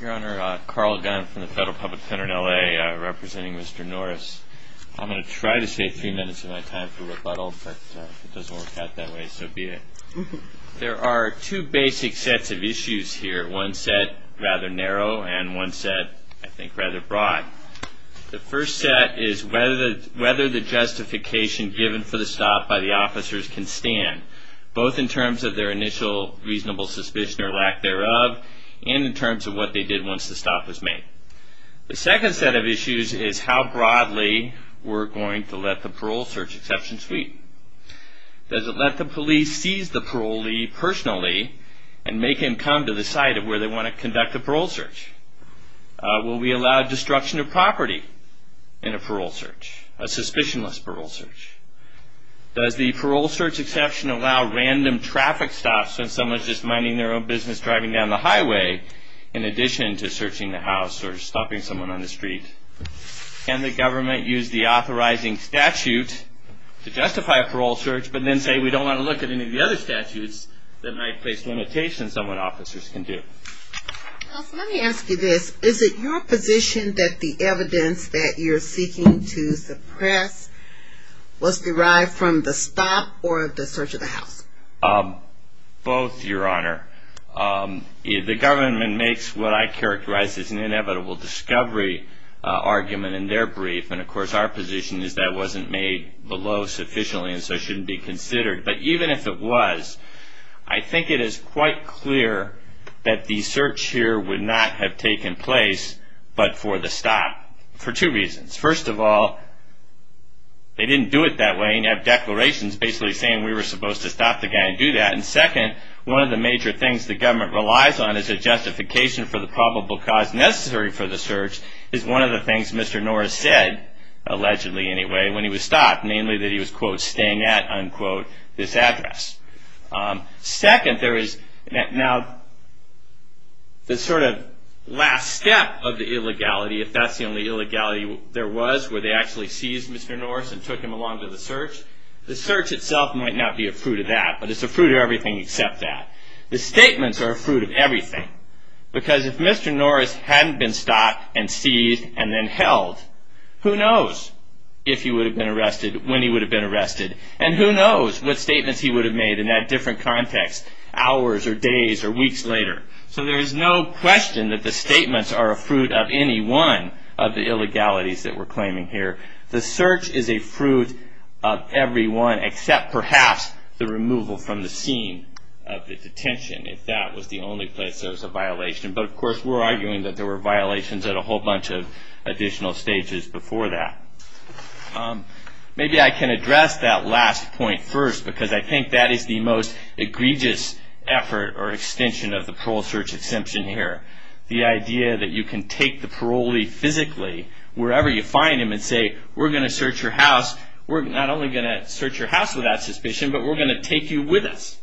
Your Honor, Carl Gunn from the Federal Public Center in L.A. representing Mr. Norris. I'm going to try to save three minutes of my time for rebuttal, but if it doesn't work out that way, so be it. There are two basic sets of issues here, one set rather narrow and one set, I think, rather broad. The first set is whether the justification given for the stop by the officers can stand, both in terms of their initial reasonable suspicion or lack thereof and in terms of what they did once the stop was made. The second set of issues is how broadly we're going to let the parole search exception sweep. Does it let the police seize the parolee personally and make him come to the site of where they want to conduct a parole search? Will we allow destruction of property in a parole search, a suspicionless parole search? Does the parole search exception allow random traffic stops since someone's just minding their own business driving down the highway in addition to searching the house or stopping someone on the street? Can the government use the authorizing statute to justify a parole search, but then say we don't want to look at any of the other statutes that might place limitations on what officers can do? Let me ask you this. Is it your position that the evidence that you're seeking to suppress was derived from the stop or the search of the house? Both, Your Honor. The government makes what I characterize as an inevitable discovery argument in their brief, and of course our position is that wasn't made below sufficiently and so shouldn't be considered. But even if it was, I think it is quite clear that the search here would not have taken place but for the stop. For two reasons. First of all, they didn't do it that way and have declarations basically saying we were supposed to stop the guy and do that. And second, one of the major things the government relies on is a justification for the probable cause necessary for the search is one of the things Mr. Norris said, allegedly anyway, when he was stopped, namely that he was, quote, staying at, unquote, this address. Second, there is now this sort of last step of the illegality, if that's the only illegality there was, where they actually seized Mr. Norris and took him along to the search. The search itself might not be a fruit of that, but it's a fruit of everything except that. The statements are a fruit of everything because if Mr. Norris hadn't been stopped and seized and then held, who knows if he would have been arrested, when he would have been arrested, and who knows what statements he would have made in that different context, hours or days or weeks later. So there is no question that the statements are a fruit of any one of the illegalities that we're claiming here. The search is a fruit of every one except perhaps the removal from the scene of the detention, if that was the only place there was a violation. But, of course, we're arguing that there were violations at a whole bunch of additional stages before that. Maybe I can address that last point first because I think that is the most egregious effort or extension of the parole search exemption here. The idea that you can take the parolee physically, wherever you find him, and say, we're going to search your house, we're not only going to search your house without suspicion, but we're going to take you with us.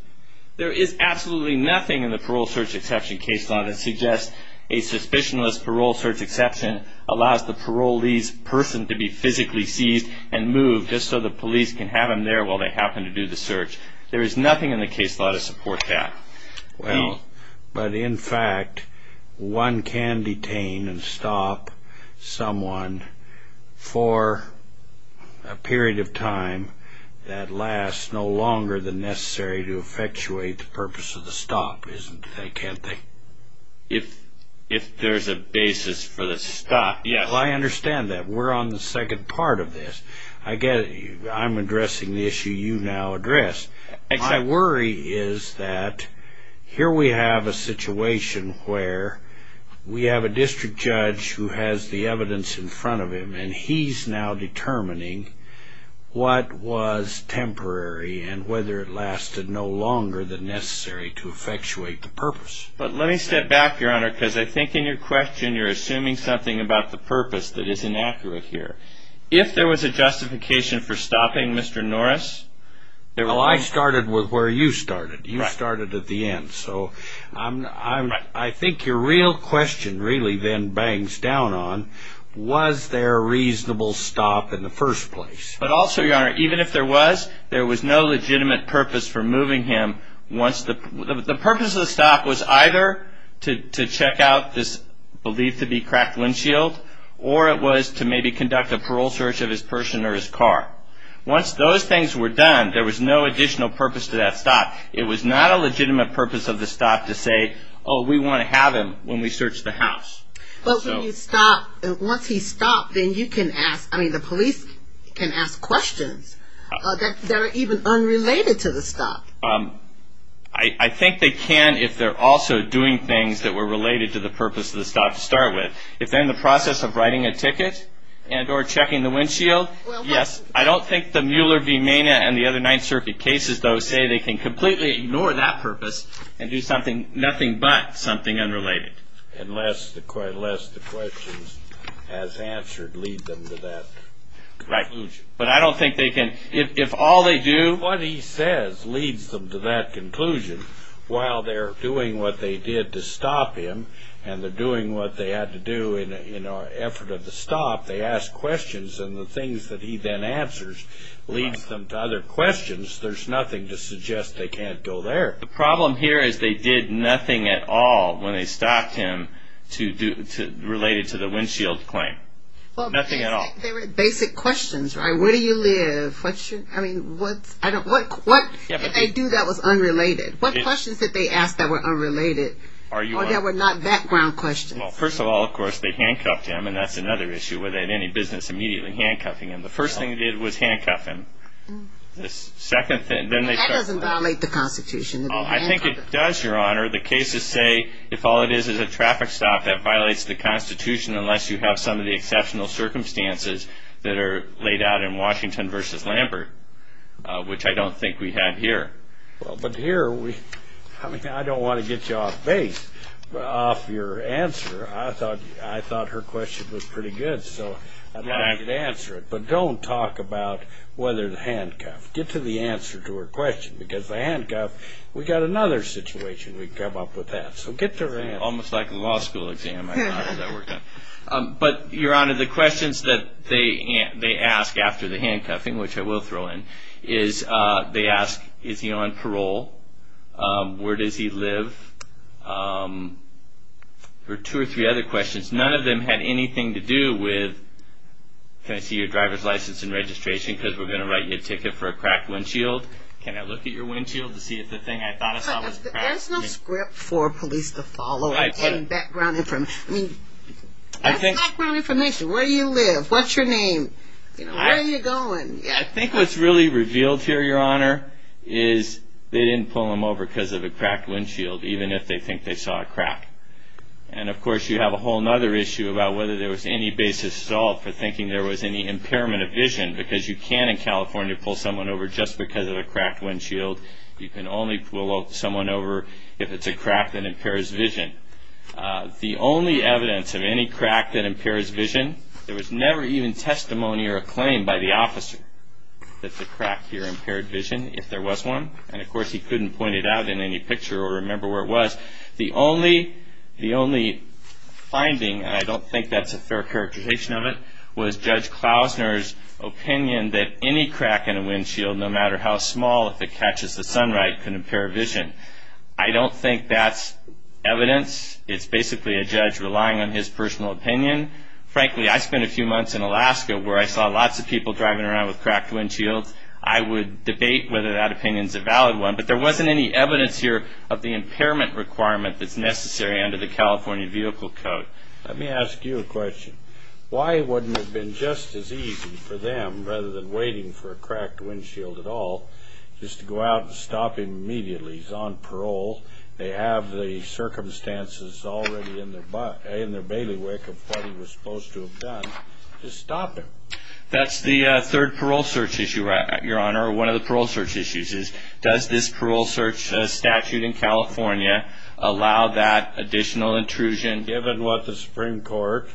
There is absolutely nothing in the parole search exception case law that suggests a suspicionless parole search exception allows the parolee's person to be physically seized and moved just so the police can have him there while they happen to do the search. There is nothing in the case law to support that. But, in fact, one can detain and stop someone for a period of time that lasts no longer than necessary to effectuate the purpose of the stop, can't they? If there's a basis for the stop, yes. I understand that. We're on the second part of this. I'm addressing the issue you now address. My worry is that here we have a situation where we have a district judge who has the evidence in front of him, and he's now determining what was temporary and whether it lasted no longer than necessary to effectuate the purpose. But let me step back, Your Honor, because I think in your question you're assuming something about the purpose that is inaccurate here. If there was a justification for stopping Mr. Norris... Well, I started where you started. You started at the end. So I think your real question really then bangs down on, was there a reasonable stop in the first place? But also, Your Honor, even if there was, there was no legitimate purpose for moving him. The purpose of the stop was either to check out this believed to be cracked windshield, or it was to maybe conduct a parole search of his person or his car. Once those things were done, there was no additional purpose to that stop. It was not a legitimate purpose of the stop to say, oh, we want to have him when we search the house. But when you stop, once he's stopped, then you can ask, I mean, the police can ask questions that are even unrelated to the stop. I think they can if they're also doing things that were related to the purpose of the stop to start with. If they're in the process of writing a ticket and or checking the windshield, yes. I don't think the Mueller v. Mena and the other Ninth Circuit cases, though, say they can completely ignore that purpose and do something, but something unrelated. Unless the questions as answered lead them to that conclusion. Right. But I don't think they can, if all they do... What he says leads them to that conclusion. While they're doing what they did to stop him, and they're doing what they had to do in an effort of the stop, they ask questions, and the things that he then answers leads them to other questions. There's nothing to suggest they can't go there. The problem here is they did nothing at all when they stopped him related to the windshield claim. Nothing at all. They were basic questions, right? Where do you live? I mean, what if they do that was unrelated? What questions did they ask that were unrelated or that were not background questions? Well, first of all, of course, they handcuffed him, and that's another issue. Were they in any business immediately handcuffing him? The first thing they did was handcuff him. That doesn't violate the Constitution. I think it does, Your Honor. The cases say if all it is is a traffic stop, that violates the Constitution unless you have some of the exceptional circumstances that are laid out in Washington v. Lambert, which I don't think we have here. But here, I don't want to get you off base. Off your answer, I thought her question was pretty good, so I'd like you to answer it. But don't talk about whether the handcuff. Get to the answer to her question, because the handcuff, we've got another situation we can come up with that. So get to her answer. Almost like a law school exam I thought that worked out. But, Your Honor, the questions that they ask after the handcuffing, which I will throw in, is they ask, is he on parole? Where does he live? There were two or three other questions. None of them had anything to do with, can I see your driver's license and registration, because we're going to write you a ticket for a cracked windshield. Can I look at your windshield to see if the thing I thought I saw was cracked? There's no script for police to follow and background information. I mean, that's background information. Where do you live? What's your name? Where are you going? I think what's really revealed here, Your Honor, is they didn't pull him over because of a cracked windshield, even if they think they saw a crack. And, of course, you have a whole other issue about whether there was any basis at all for thinking there was any impairment of vision, because you can in California pull someone over just because of a cracked windshield. You can only pull someone over if it's a crack that impairs vision. The only evidence of any crack that impairs vision, there was never even testimony or a claim by the officer that the crack here impaired vision, if there was one. And, of course, he couldn't point it out in any picture or remember where it was. The only finding, and I don't think that's a fair characterization of it, was Judge Klausner's opinion that any crack in a windshield, no matter how small, if it catches the sun right, can impair vision. I don't think that's evidence. It's basically a judge relying on his personal opinion. Frankly, I spent a few months in Alaska where I saw lots of people driving around with cracked windshields. I would debate whether that opinion is a valid one. But there wasn't any evidence here of the impairment requirement that's necessary under the California Vehicle Code. Let me ask you a question. Why wouldn't it have been just as easy for them, rather than waiting for a cracked windshield at all, just to go out and stop him immediately? He's on parole. They have the circumstances already in their bailiwick of what he was supposed to have done. Just stop him. That's the third parole search issue, Your Honor. One of the parole search issues is, does this parole search statute in California allow that additional intrusion? Given what the Supreme Court,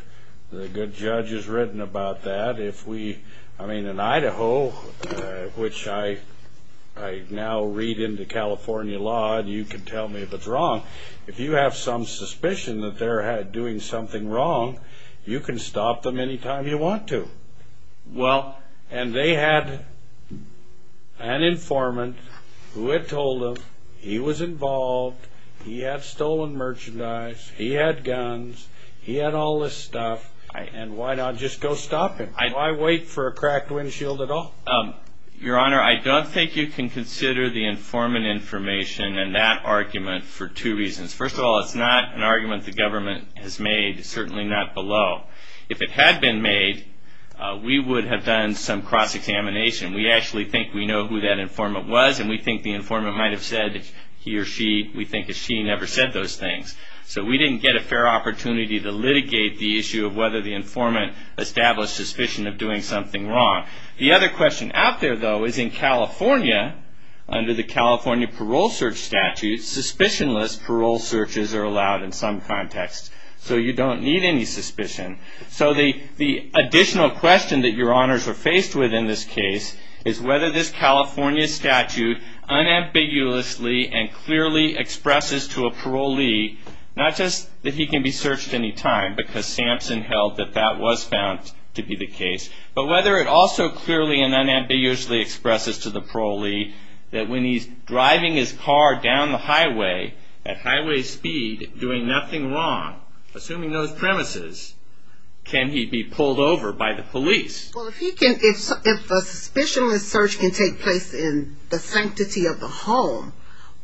the good judge, has written about that, if we, I mean, in Idaho, which I now read into California law, and you can tell me if it's wrong, if you have some suspicion that they're doing something wrong, you can stop them any time you want to. Well, and they had an informant who had told them he was involved, he had stolen merchandise, he had guns, he had all this stuff, and why not just go stop him? Why wait for a cracked windshield at all? Your Honor, I don't think you can consider the informant information and that argument for two reasons. First of all, it's not an argument the government has made, certainly not below. If it had been made, we would have done some cross-examination. We actually think we know who that informant was, and we think the informant might have said he or she. We think that she never said those things. So we didn't get a fair opportunity to litigate the issue of whether the informant established suspicion of doing something wrong. The other question out there, though, is in California, under the California parole search statute, suspicionless parole searches are allowed in some contexts. So you don't need any suspicion. So the additional question that your Honors are faced with in this case is whether this California statute unambiguously and clearly expresses to a parolee not just that he can be searched any time, because Sampson held that that was found to be the case, but whether it also clearly and unambiguously expresses to the parolee that when he's driving his car down the highway at highway speed doing nothing wrong, assuming those premises, can he be pulled over by the police. Well, if a suspicionless search can take place in the sanctity of the home,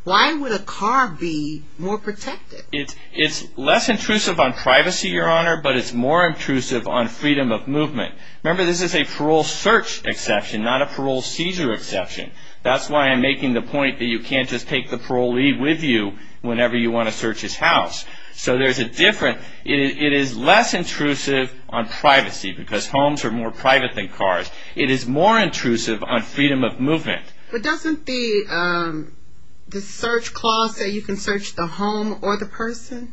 why would a car be more protected? It's less intrusive on privacy, Your Honor, but it's more intrusive on freedom of movement. Remember, this is a parole search exception, not a parole seizure exception. That's why I'm making the point that you can't just take the parolee with you whenever you want to search his house. So there's a difference. It is less intrusive on privacy because homes are more private than cars. It is more intrusive on freedom of movement. But doesn't the search clause say you can search the home or the person?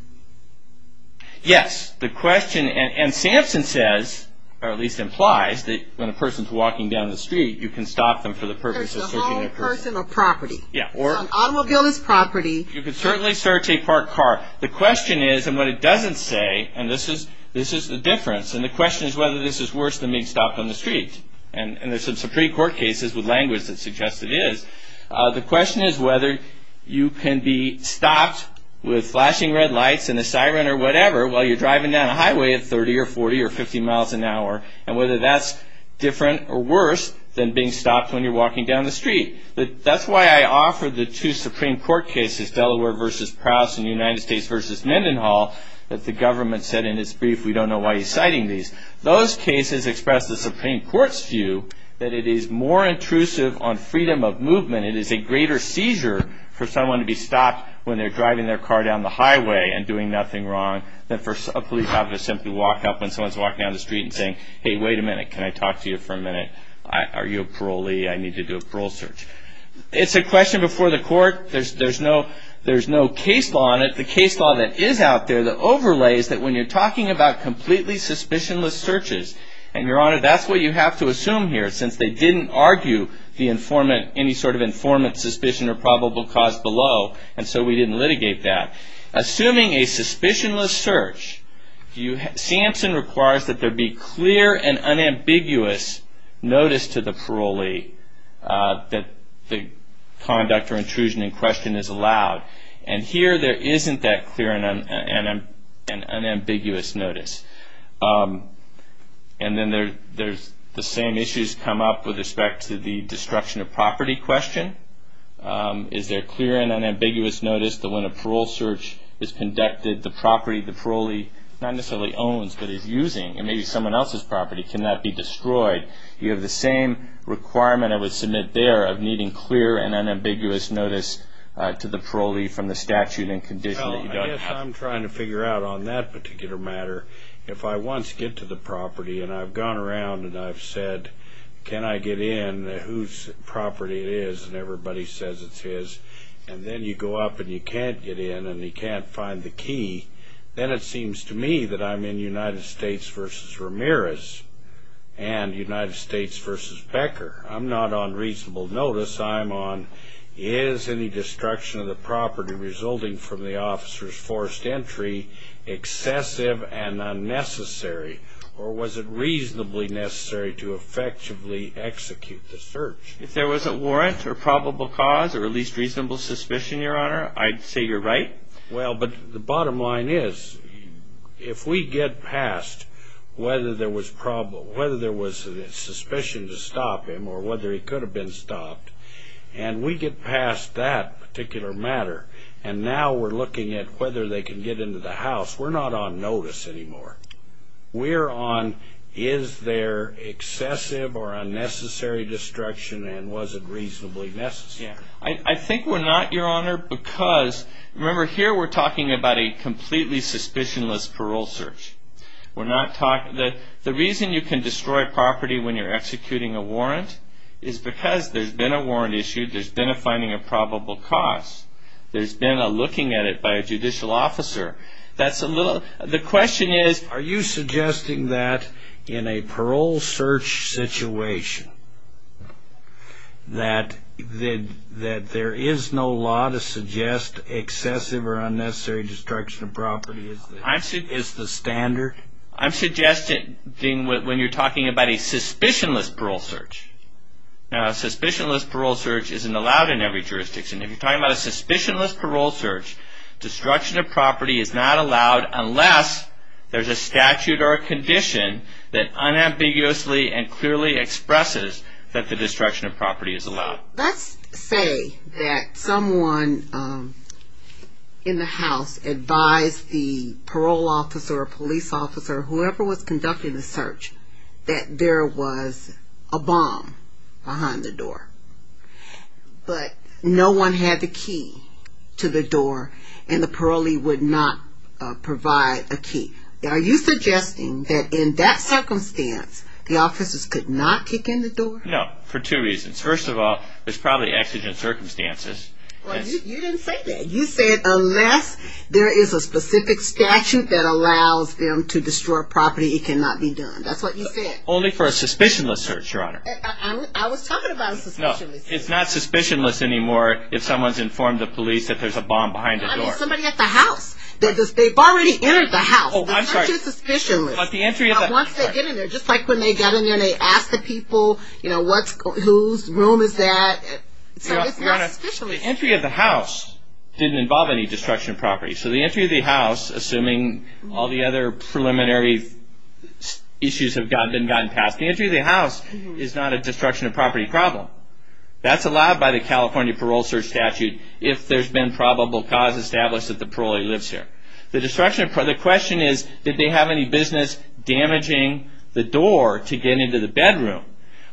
Yes. And Samson says, or at least implies, that when a person is walking down the street, you can stop them for the purpose of searching a person. So home, person, or property. Yeah. So an automobile is property. You can certainly search a parked car. The question is, and what it doesn't say, and this is the difference, and the question is whether this is worse than being stopped on the street, and there's some Supreme Court cases with language that suggests it is, the question is whether you can be stopped with flashing red lights and a siren or whatever while you're driving down a highway at 30 or 40 or 50 miles an hour, and whether that's different or worse than being stopped when you're walking down the street. That's why I offer the two Supreme Court cases, Delaware v. Prowse and United States v. Mendenhall, that the government said in its brief, we don't know why he's citing these. Those cases express the Supreme Court's view that it is more intrusive on freedom of movement. It is a greater seizure for someone to be stopped when they're driving their car down the highway and doing nothing wrong than for a police officer to simply walk up when someone's walking down the street and saying, hey, wait a minute. Can I talk to you for a minute? Are you a parolee? I need to do a parole search. It's a question before the court. There's no case law on it. The case law that is out there, the overlay, is that when you're talking about completely suspicionless searches, and, Your Honor, that's what you have to assume here since they didn't argue any sort of informant suspicion or probable cause below, and so we didn't litigate that. Assuming a suspicionless search, Samson requires that there be clear and unambiguous notice to the parolee that the conduct or intrusion in question is allowed, and here there isn't that clear and unambiguous notice. And then there's the same issues come up with respect to the destruction of property question. Is there clear and unambiguous notice that when a parole search is conducted, the property the parolee not necessarily owns but is using, and maybe someone else's property, cannot be destroyed? You have the same requirement I would submit there of needing clear and unambiguous notice to the parolee from the statute and condition that you don't have. Well, I guess I'm trying to figure out on that particular matter, if I once get to the property and I've gone around and I've said, can I get in, whose property it is, and everybody says it's his, and then you go up and you can't get in and you can't find the key, then it seems to me that I'm in United States v. Ramirez and United States v. Becker. I'm not on reasonable notice. I'm on is any destruction of the property resulting from the officer's forced entry excessive and unnecessary, or was it reasonably necessary to effectively execute the search? If there was a warrant or probable cause or at least reasonable suspicion, Your Honor, I'd say you're right. Well, but the bottom line is if we get past whether there was a suspicion to stop him or whether he could have been stopped, and we get past that particular matter, and now we're looking at whether they can get into the house, we're not on notice anymore. We're on is there excessive or unnecessary destruction and was it reasonably necessary? I think we're not, Your Honor, because remember here we're talking about a completely suspicionless parole search. The reason you can destroy property when you're executing a warrant is because there's been a warrant issued, there's been a finding of probable cause, there's been a looking at it by a judicial officer. The question is are you suggesting that in a parole search situation that there is no law to suggest excessive or unnecessary destruction of property is the standard? I'm suggesting when you're talking about a suspicionless parole search. Now, a suspicionless parole search isn't allowed in every jurisdiction. If you're talking about a suspicionless parole search, destruction of property is not allowed unless there's a statute or a condition that unambiguously and clearly expresses that the destruction of property is allowed. Let's say that someone in the house advised the parole officer or police officer or whoever was conducting the search that there was a bomb behind the door, but no one had the key to the door and the parolee would not provide a key. Are you suggesting that in that circumstance the officers could not kick in the door? No, for two reasons. First of all, there's probably exigent circumstances. Well, you didn't say that. You said unless there is a specific statute that allows them to destroy property, it cannot be done. That's what you said. Only for a suspicionless search, Your Honor. I was talking about a suspicionless search. No, it's not suspicionless anymore if someone's informed the police that there's a bomb behind the door. It's somebody at the house. They've already entered the house. Oh, I'm sorry. It's not just suspicionless. Once they get in there, just like when they get in there and they ask the people whose room is that. It's not just suspicionless. So the entry of the house didn't involve any destruction of property. So the entry of the house, assuming all the other preliminary issues have been gotten past, the entry of the house is not a destruction of property problem. That's allowed by the California Parole Search Statute if there's been probable cause established that the parolee lives here. The question is, did they have any business damaging the door to get into the bedroom?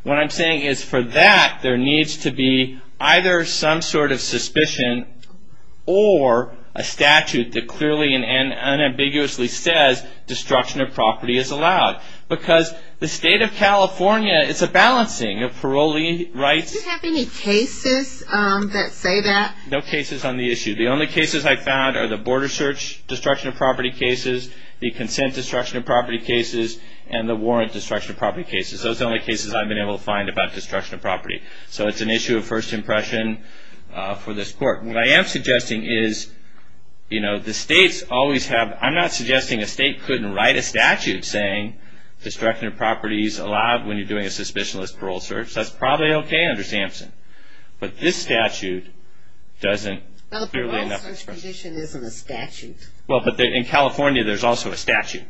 What I'm saying is for that, there needs to be either some sort of suspicion or a statute that clearly and unambiguously says destruction of property is allowed. Because the state of California, it's a balancing of parolee rights. Did you have any cases that say that? No cases on the issue. The only cases I found are the border search destruction of property cases, the consent destruction of property cases, and the warrant destruction of property cases. Those are the only cases I've been able to find about destruction of property. So it's an issue of first impression for this court. What I am suggesting is, you know, the states always have – I'm not suggesting a state couldn't write a statute saying destruction of property is allowed when you're doing a suspicionless parole search. That's probably okay under SAMHSA. But this statute doesn't – Well, the parole search condition isn't a statute. Well, but in California, there's also a statute.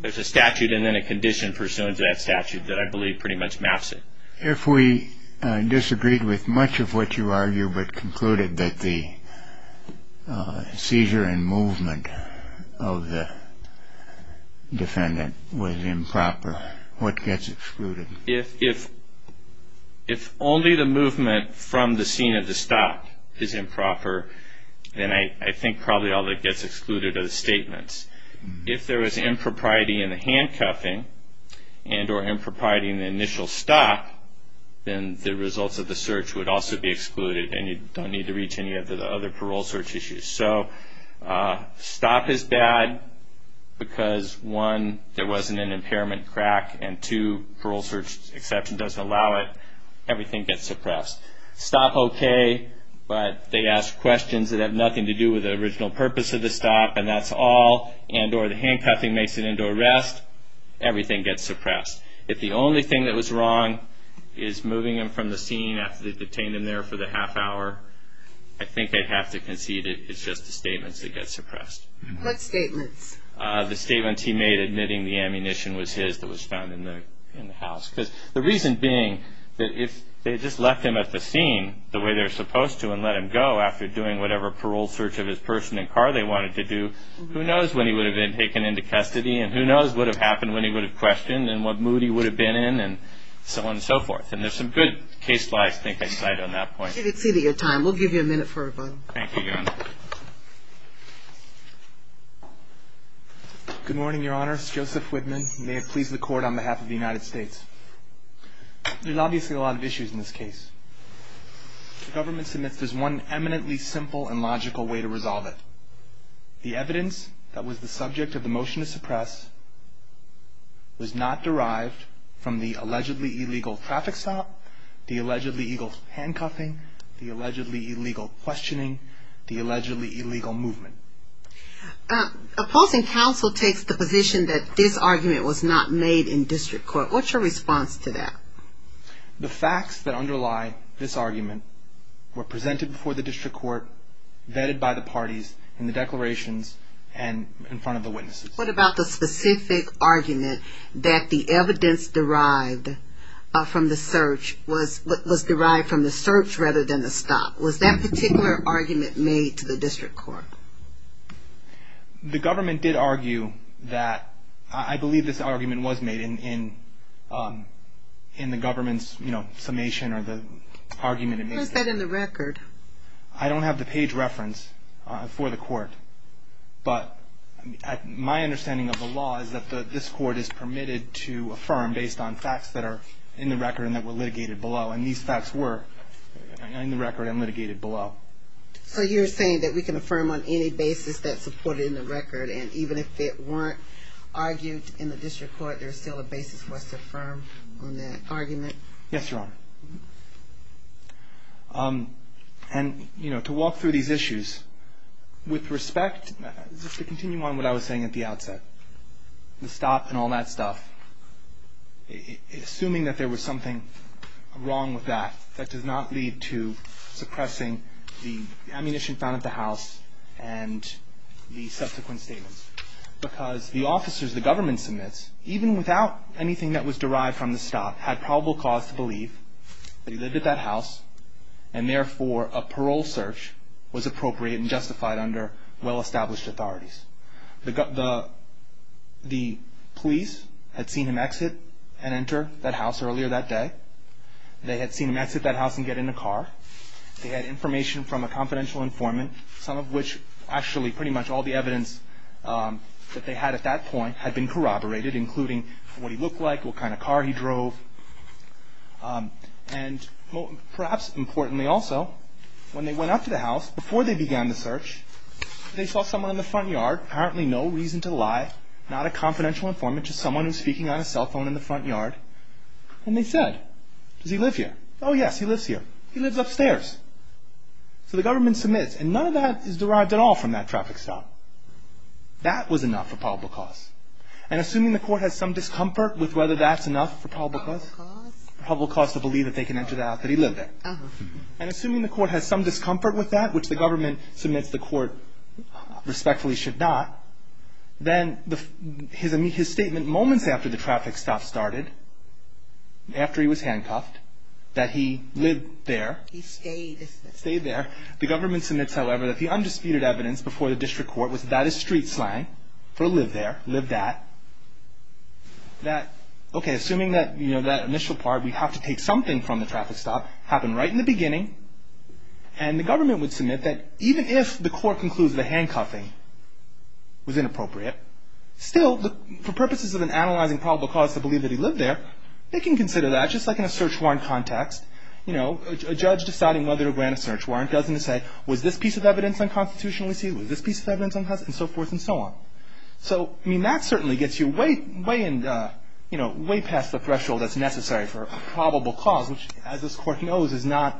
There's a statute and then a condition pursuant to that statute that I believe pretty much maps it. If we disagreed with much of what you argue but concluded that the seizure and movement of the defendant was improper, what gets excluded? If only the movement from the scene of the stop is improper, then I think probably all that gets excluded are the statements. If there is impropriety in the handcuffing and or impropriety in the initial stop, then the results of the search would also be excluded and you don't need to reach any of the other parole search issues. So stop is bad because, one, there wasn't an impairment crack, and, two, parole search exception doesn't allow it. Everything gets suppressed. Stop, okay, but they ask questions that have nothing to do with the original purpose of the stop, and that's all, and or the handcuffing makes it into arrest, everything gets suppressed. If the only thing that was wrong is moving him from the scene after they detained him there for the half hour, I think they'd have to concede it's just the statements that get suppressed. What statements? The statements he made admitting the ammunition was his that was found in the house. Because the reason being that if they just left him at the scene the way they're supposed to and let him go after doing whatever parole search of his person and car they wanted to do, who knows when he would have been taken into custody and who knows what would have happened when he would have questioned and what mood he would have been in and so on and so forth. And there's some good case-wise thinking side on that point. You've exceeded your time. We'll give you a minute for a vote. Thank you, Your Honor. Good morning, Your Honor. It's Joseph Whitman. May it please the Court on behalf of the United States. There's obviously a lot of issues in this case. The government submits there's one eminently simple and logical way to resolve it. The evidence that was the subject of the motion to suppress was not derived from the allegedly illegal traffic stop, the allegedly illegal handcuffing, the allegedly illegal questioning, the allegedly illegal movement. Opposing counsel takes the position that this argument was not made in district court. What's your response to that? The facts that underlie this argument were presented before the district court, vetted by the parties in the declarations and in front of the witnesses. What about the specific argument that the evidence derived from the search was derived from the search rather than the stop? Was that particular argument made to the district court? The government did argue that. I believe this argument was made in the government's summation or the argument. What is that in the record? I don't have the page reference for the court, but my understanding of the law is that this court is permitted to affirm based on facts that are in the record and that were litigated below, and these facts were in the record and litigated below. So you're saying that we can affirm on any basis that's supported in the record and even if it weren't argued in the district court, there's still a basis for us to affirm on that argument? Yes, Your Honor. And, you know, to walk through these issues, with respect, just to continue on what I was saying at the outset, the stop and all that stuff, assuming that there was something wrong with that, that does not lead to suppressing the ammunition found at the house and the subsequent statements, because the officers the government submits, even without anything that was derived from the stop, had probable cause to believe that he lived at that house and therefore a parole search was appropriate and justified under well-established authorities. The police had seen him exit and enter that house earlier that day. They had seen him exit that house and get in the car. They had information from a confidential informant, some of which actually pretty much all the evidence that they had at that point had been corroborated, including what he looked like, what kind of car he drove, and perhaps importantly also, when they went up to the house, before they began the search, they saw someone in the front yard, apparently no reason to lie, not a confidential informant, just someone who was speaking on a cell phone in the front yard, and they said, does he live here? Oh yes, he lives here. He lives upstairs. So the government submits, and none of that is derived at all from that traffic stop. That was enough for probable cause. And assuming the court has some discomfort with whether that's enough for probable cause, probable cause to believe that they can enter the house that he lived in, and assuming the court has some discomfort with that, which the government submits the court respectfully should not, then his statement moments after the traffic stop started, after he was handcuffed, that he lived there. He stayed. Stayed there. The government submits, however, that the undisputed evidence before the district court was that is street slang for live there, live that. Okay, assuming that initial part, we have to take something from the traffic stop, happened right in the beginning, and the government would submit that even if the court concludes the handcuffing was inappropriate, still, for purposes of an analyzing probable cause to believe that he lived there, they can consider that just like in a search warrant context. A judge deciding whether to grant a search warrant doesn't say, was this piece of evidence unconstitutionally seen? Was this piece of evidence unconstitutionally seen? And so forth and so on. So that certainly gets you way past the threshold that's necessary for probable cause, which, as this court knows, is not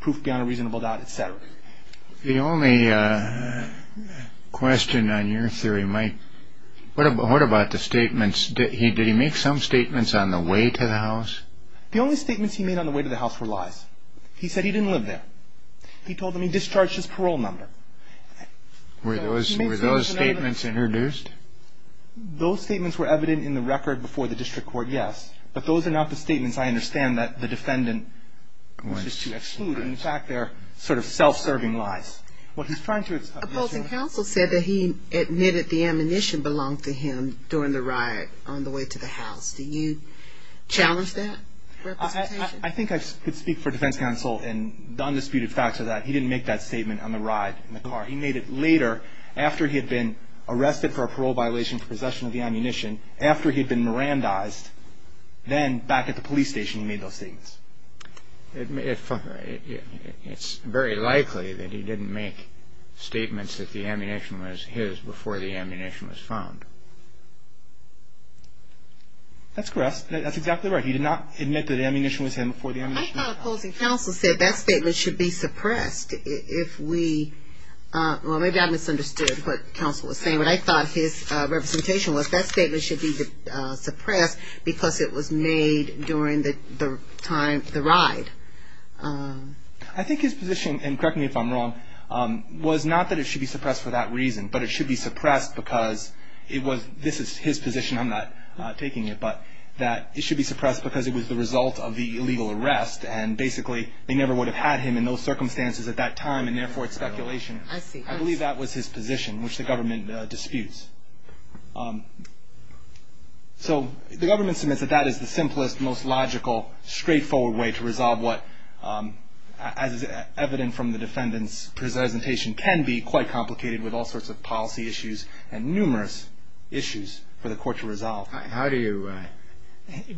proof beyond a reasonable doubt, et cetera. The only question on your theory, Mike, what about the statements? Did he make some statements on the way to the house? The only statements he made on the way to the house were lies. He said he didn't live there. He told them he discharged his parole number. Were those statements introduced? Those statements were evident in the record before the district court, yes, but those are not the statements, I understand, that the defendant wishes to exclude. In fact, they're sort of self-serving lies. What he's trying to say is that he admitted the ammunition belonged to him during the riot on the way to the house. Do you challenge that representation? I think I could speak for defense counsel in the undisputed fact that he didn't make that statement on the ride in the car. He made it later, after he had been arrested for a parole violation for possession of the ammunition, after he had been Mirandized, then back at the police station he made those statements. It's very likely that he didn't make statements that the ammunition was his before the ammunition was found. That's correct. That's exactly right. He did not admit that the ammunition was him before the ammunition was found. I thought opposing counsel said that statement should be suppressed if we – well, maybe I misunderstood what counsel was saying. What I thought his representation was that statement should be suppressed because it was made during the ride. I think his position, and correct me if I'm wrong, was not that it should be suppressed for that reason, but it should be suppressed because it was – this is his position, I'm not taking it, but that it should be suppressed because it was the result of the illegal arrest and basically they never would have had him in those circumstances at that time and therefore it's speculation. I see. I believe that was his position, which the government disputes. So the government submits that that is the simplest, most logical, straightforward way to resolve what, as is evident from the defendant's presentation, can be quite complicated with all sorts of policy issues and numerous issues for the court to resolve. How do you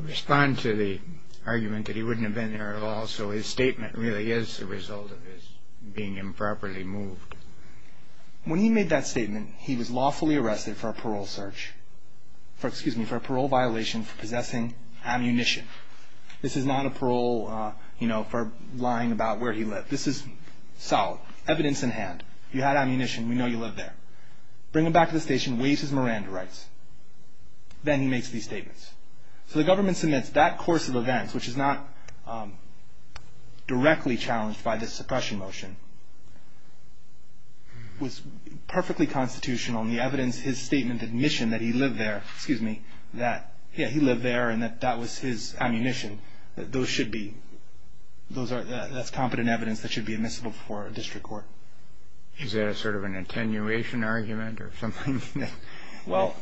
respond to the argument that he wouldn't have been there at all, so his statement really is the result of his being improperly moved? When he made that statement, he was lawfully arrested for a parole search – excuse me, for a parole violation for possessing ammunition. This is not a parole, you know, for lying about where he lived. This is solid, evidence in hand. You had ammunition, we know you lived there. Bring him back to the station, waive his Miranda rights. Then he makes these statements. So the government submits that course of events, which is not directly challenged by this suppression motion, was perfectly constitutional in the evidence, his statement, the admission that he lived there and that that was his ammunition. Those should be – that's competent evidence that should be admissible before a district court. Is that sort of an attenuation argument or something? Well,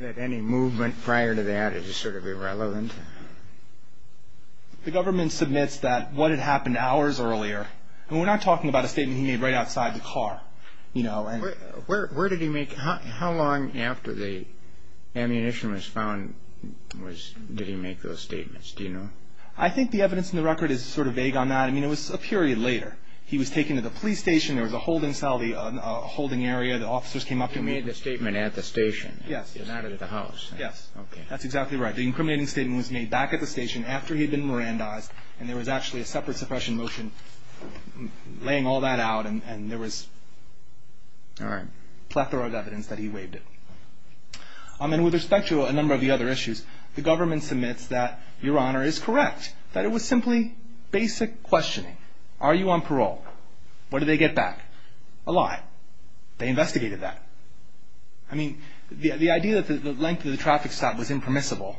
any movement prior to that is sort of irrelevant. The government submits that what had happened hours earlier – and we're not talking about a statement he made right outside the car. Where did he make – how long after the ammunition was found did he make those statements? I think the evidence in the record is sort of vague on that. I mean, it was a period later. He was taken to the police station. There was a holding cell, a holding area. The officers came up to him. He made the statement at the station. Yes. And not at the house. Yes. That's exactly right. The incriminating statement was made back at the station after he'd been Mirandized, and there was actually a separate suppression motion laying all that out, and there was a plethora of evidence that he waived it. And with respect to a number of the other issues, the government submits that Your Honor is correct, that it was simply basic questioning. Are you on parole? What did they get back? A lie. A lie. They investigated that. I mean, the idea that the length of the traffic stop was impermissible,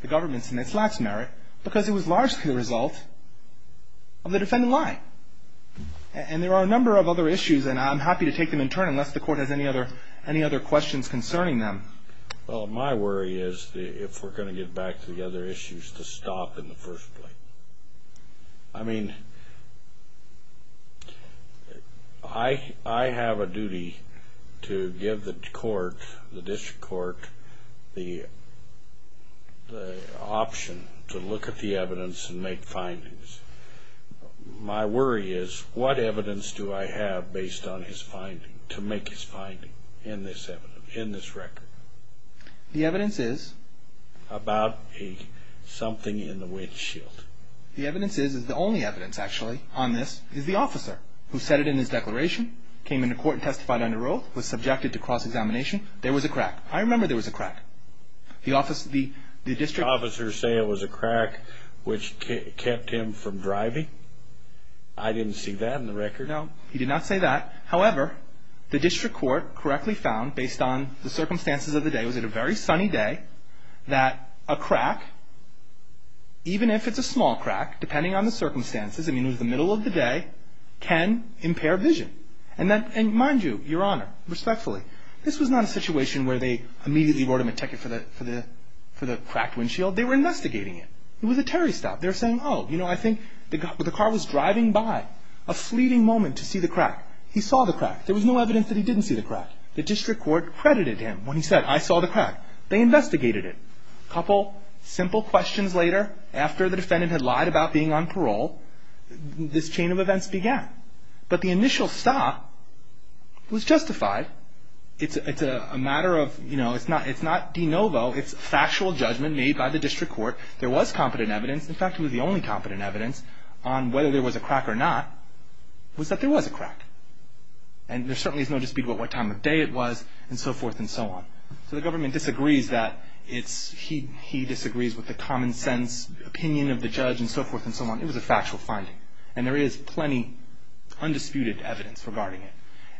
the government submits that's merit because it was largely the result of the defendant lying. And there are a number of other issues, and I'm happy to take them in turn unless the Court has any other questions concerning them. Well, my worry is if we're going to get back to the other issues, to stop in the first place. I mean, I have a duty to give the court, the district court, the option to look at the evidence and make findings. My worry is what evidence do I have based on his finding, to make his finding in this record? The evidence is? About something in the windshield. The evidence is the only evidence, actually, on this is the officer who said it in his declaration, came into court and testified under oath, was subjected to cross-examination. There was a crack. I remember there was a crack. The district officers say it was a crack which kept him from driving. I didn't see that in the record. No, he did not say that. However, the district court correctly found, based on the circumstances of the day, so it was a very sunny day, that a crack, even if it's a small crack, depending on the circumstances, I mean it was the middle of the day, can impair vision. And mind you, Your Honor, respectfully, this was not a situation where they immediately brought him a ticket for the cracked windshield. They were investigating it. It was a Terry stop. They were saying, oh, you know, I think the car was driving by. A fleeting moment to see the crack. He saw the crack. There was no evidence that he didn't see the crack. The district court credited him when he said, I saw the crack. They investigated it. A couple simple questions later, after the defendant had lied about being on parole, this chain of events began. But the initial stop was justified. It's a matter of, you know, it's not de novo. It's factual judgment made by the district court. There was competent evidence. In fact, it was the only competent evidence on whether there was a crack or not, was that there was a crack. And there certainly is no dispute about what time of day it was and so forth and so on. So the government disagrees that he disagrees with the common sense opinion of the judge and so forth and so on. It was a factual finding. And there is plenty of undisputed evidence regarding it.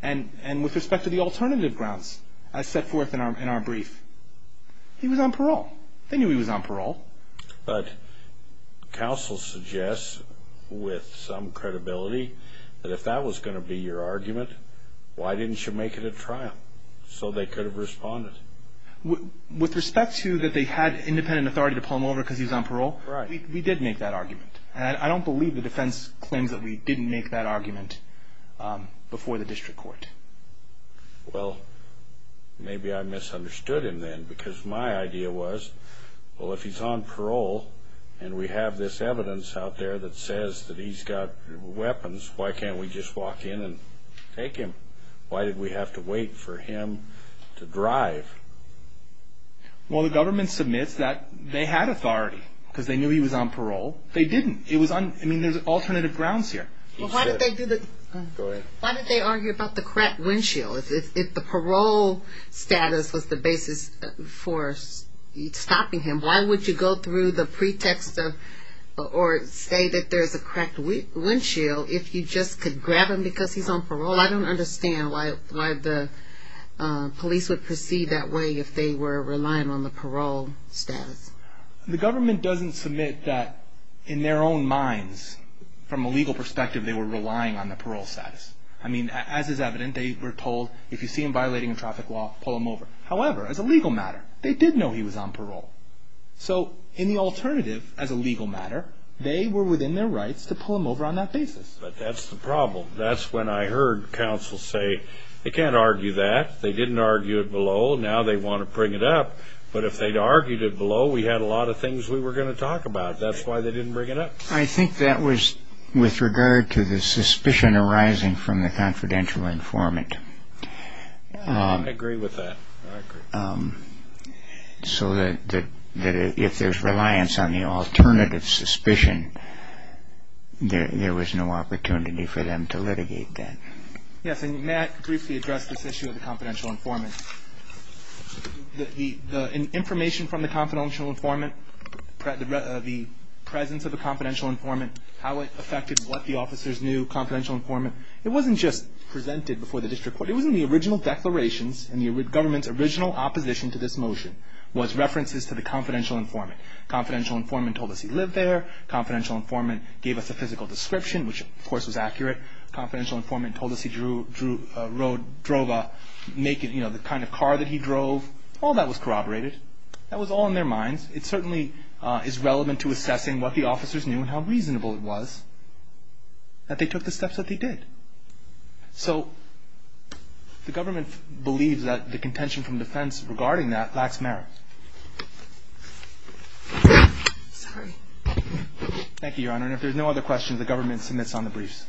And with respect to the alternative grounds, as set forth in our brief, he was on parole. They knew he was on parole. But counsel suggests with some credibility that if that was going to be your argument, why didn't you make it a trial so they could have responded? With respect to that they had independent authority to pull him over because he was on parole, we did make that argument. And I don't believe the defense claims that we didn't make that argument before the district court. Well, maybe I misunderstood him then because my idea was, well, if he's on parole and we have this evidence out there that says that he's got weapons, why can't we just walk in and take him? Why did we have to wait for him to drive? Well, the government submits that they had authority because they knew he was on parole. They didn't. I mean, there's alternative grounds here. He's good. Go ahead. Why did they argue about the cracked windshield? If the parole status was the basis for stopping him, why would you go through the pretext of or say that there's a cracked windshield if you just could grab him because he's on parole? I don't understand why the police would proceed that way if they were relying on the parole status. The government doesn't submit that in their own minds, from a legal perspective, they were relying on the parole status. I mean, as is evident, they were told, if you see him violating a traffic law, pull him over. However, as a legal matter, they did know he was on parole. So in the alternative, as a legal matter, they were within their rights to pull him over on that basis. But that's the problem. That's when I heard counsel say, they can't argue that. They didn't argue it below. Now they want to bring it up. But if they'd argued it below, we had a lot of things we were going to talk about. That's why they didn't bring it up. I think that was with regard to the suspicion arising from the confidential informant. I agree with that. I agree. So that if there's reliance on the alternative suspicion, there was no opportunity for them to litigate that. Yes, and may I briefly address this issue of the confidential informant? The information from the confidential informant, the presence of a confidential informant, how it affected what the officers knew, confidential informant, it wasn't just presented before the district court. It was in the original declarations and the government's original opposition to this motion was references to the confidential informant. Confidential informant told us he lived there. Confidential informant gave us a physical description, which, of course, was accurate. Confidential informant told us he drove the kind of car that he drove. All that was corroborated. That was all in their minds. It certainly is relevant to assessing what the officers knew and how reasonable it was that they took the steps that they did. So the government believes that the contention from defense regarding that lacks merit. Sorry. Thank you, Your Honor. And if there's no other questions, the government submits on the briefs.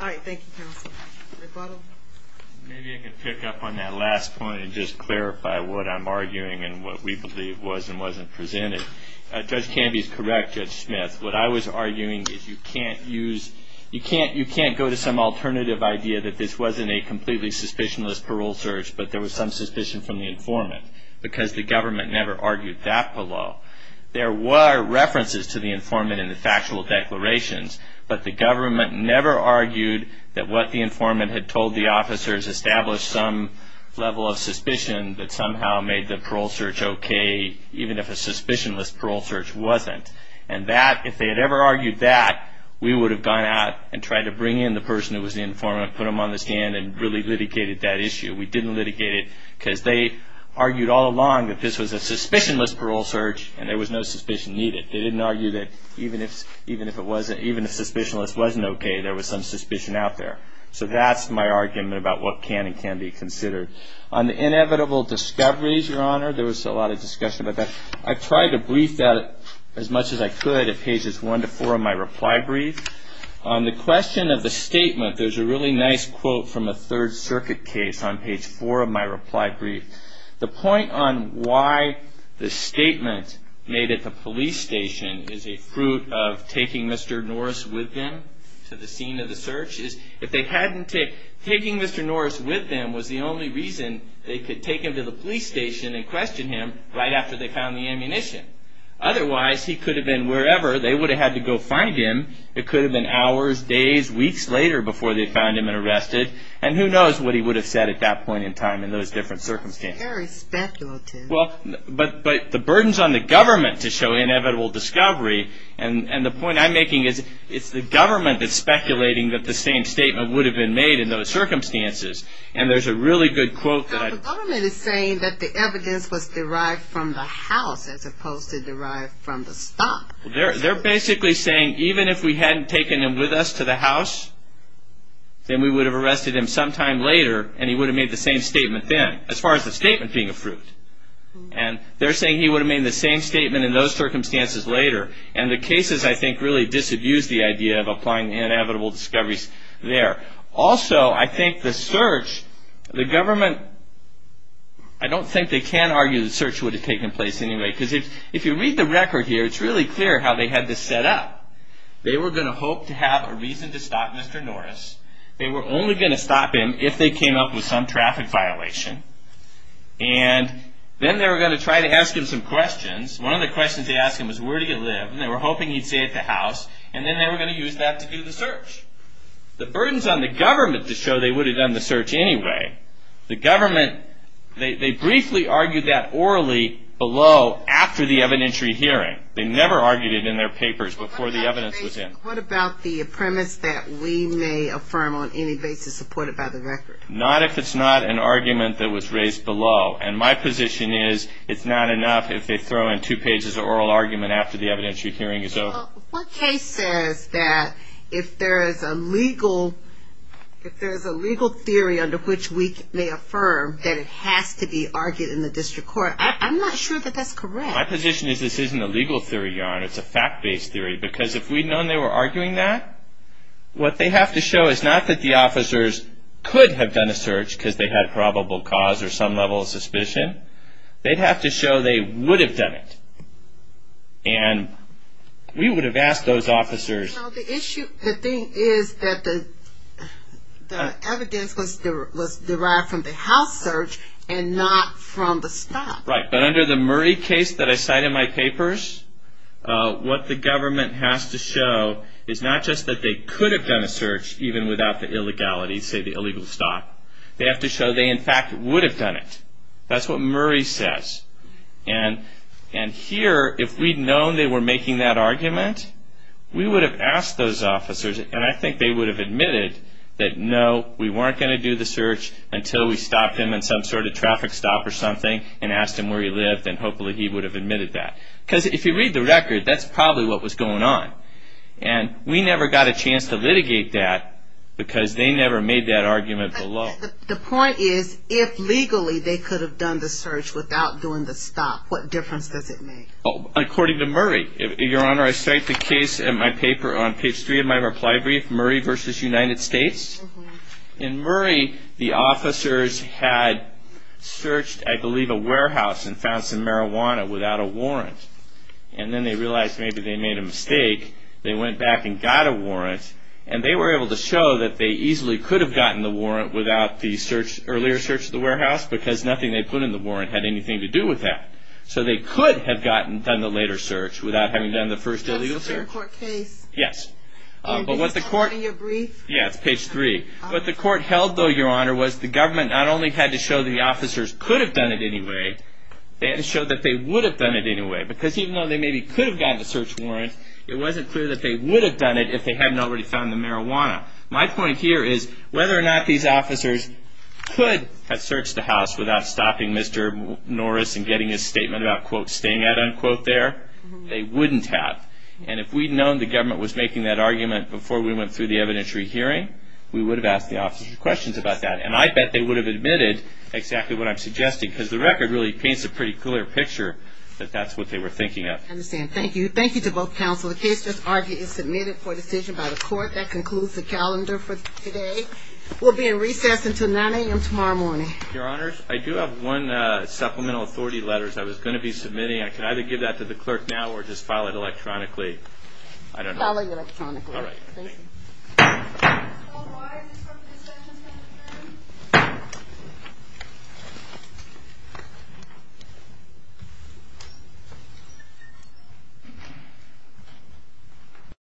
All right. Thank you, counsel. McButtle. Maybe I can pick up on that last point and just clarify what I'm arguing and what we believe was and wasn't presented. Judge Canby is correct, Judge Smith. What I was arguing is you can't go to some alternative idea that this wasn't a completely suspicionless parole search, but there was some suspicion from the informant, because the government never argued that below. There were references to the informant in the factual declarations, but the government never argued that what the informant had told the officers established some level of suspicion that somehow made the parole search okay, even if a suspicionless parole search wasn't. And if they had ever argued that, we would have gone out and tried to bring in the person who was the informant, put him on the stand, and really litigated that issue. We didn't litigate it because they argued all along that this was a suspicionless parole search and there was no suspicion needed. They didn't argue that even if a suspicionless wasn't okay, there was some suspicion out there. So that's my argument about what can and can't be considered. On the inevitable discoveries, Your Honor, there was a lot of discussion about that. I tried to brief that as much as I could at pages 1 to 4 of my reply brief. On the question of the statement, there's a really nice quote from a Third Circuit case on page 4 of my reply brief. The point on why the statement made at the police station is a fruit of taking Mr. Norris with them to the scene of the search is if they hadn't taken Mr. Norris with them was the only reason they could take him to the police station and question him right after they found the ammunition. Otherwise, he could have been wherever. They would have had to go find him. It could have been hours, days, weeks later before they found him and arrested. And who knows what he would have said at that point in time in those different circumstances. That's very speculative. But the burden's on the government to show inevitable discovery. And the point I'm making is it's the government that's speculating that the same statement would have been made in those circumstances. And there's a really good quote that I... The government is saying that the evidence was derived from the house as opposed to derived from the stop. They're basically saying even if we hadn't taken him with us to the house, then we would have arrested him sometime later and he would have made the same statement then as far as the statement being a fruit. And they're saying he would have made the same statement in those circumstances later. And the cases, I think, really disabuse the idea of applying the inevitable discoveries there. Also, I think the search... The government... I don't think they can argue the search would have taken place anyway because if you read the record here, it's really clear how they had this set up. They were going to hope to have a reason to stop Mr. Norris. They were only going to stop him if they came up with some traffic violation. And then they were going to try to ask him some questions. One of the questions they asked him was, where do you live? And they were hoping he'd say at the house. And then they were going to use that to do the search. The burden's on the government to show they would have done the search anyway. The government... They briefly argued that orally below after the evidentiary hearing. They never argued it in their papers before the evidence was in. What about the premise that we may affirm on any basis supported by the record? Not if it's not an argument that was raised below. And my position is it's not enough if they throw in two pages of oral argument after the evidentiary hearing is over. What case says that if there is a legal theory under which we may affirm that it has to be argued in the district court? I'm not sure that that's correct. My position is this isn't a legal theory, Your Honor. It's a fact-based theory. Because if we'd known they were arguing that, what they have to show is not that the officers could have done a search because they had probable cause or some level of suspicion. They'd have to show they would have done it. And we would have asked those officers... The thing is that the evidence was derived from the house search and not from the stop. Right, but under the Murray case that I cite in my papers, what the government has to show is not just that they could have done a search even without the illegality, say the illegal stop. They have to show they, in fact, would have done it. That's what Murray says. And here, if we'd known they were making that argument, we would have asked those officers, and I think they would have admitted, that no, we weren't going to do the search until we stopped them at some sort of traffic stop or something and asked them where he lived, and hopefully he would have admitted that. Because if you read the record, that's probably what was going on. And we never got a chance to litigate that because they never made that argument below. The point is, if legally they could have done the search without doing the stop, what difference does it make? According to Murray. Your Honor, I cite the case in my paper on page 3 of my reply brief, Murray v. United States. In Murray, the officers had searched, I believe, a warehouse and found some marijuana without a warrant. And then they realized maybe they made a mistake. They went back and got a warrant, and they were able to show that they easily could have gotten the warrant without the earlier search of the warehouse because nothing they put in the warrant had anything to do with that. So they could have done the later search without having done the first illegal search. That's a fair court case. Yes. In your brief? Yes, page 3. What the court held, though, Your Honor, was the government not only had to show the officers could have done it anyway, they had to show that they would have done it anyway because even though they maybe could have gotten the search warrant, it wasn't clear that they would have done it if they hadn't already found the marijuana. My point here is whether or not these officers could have searched the house without stopping Mr. Norris and getting his statement about, quote, staying at, unquote, there, they wouldn't have. And if we'd known the government was making that argument before we went through the evidentiary hearing, we would have asked the officers questions about that. And I bet they would have admitted exactly what I'm suggesting because the record really paints a pretty clear picture that that's what they were thinking of. I understand. Thank you. Thank you to both counsel. The case just argued and submitted for decision by the court. That concludes the calendar for today. We'll be in recess until 9 a.m. tomorrow morning. Your Honors, I do have one supplemental authority letters I was going to be submitting. I can either give that to the clerk now or just file it electronically. File it electronically. All right. Thank you.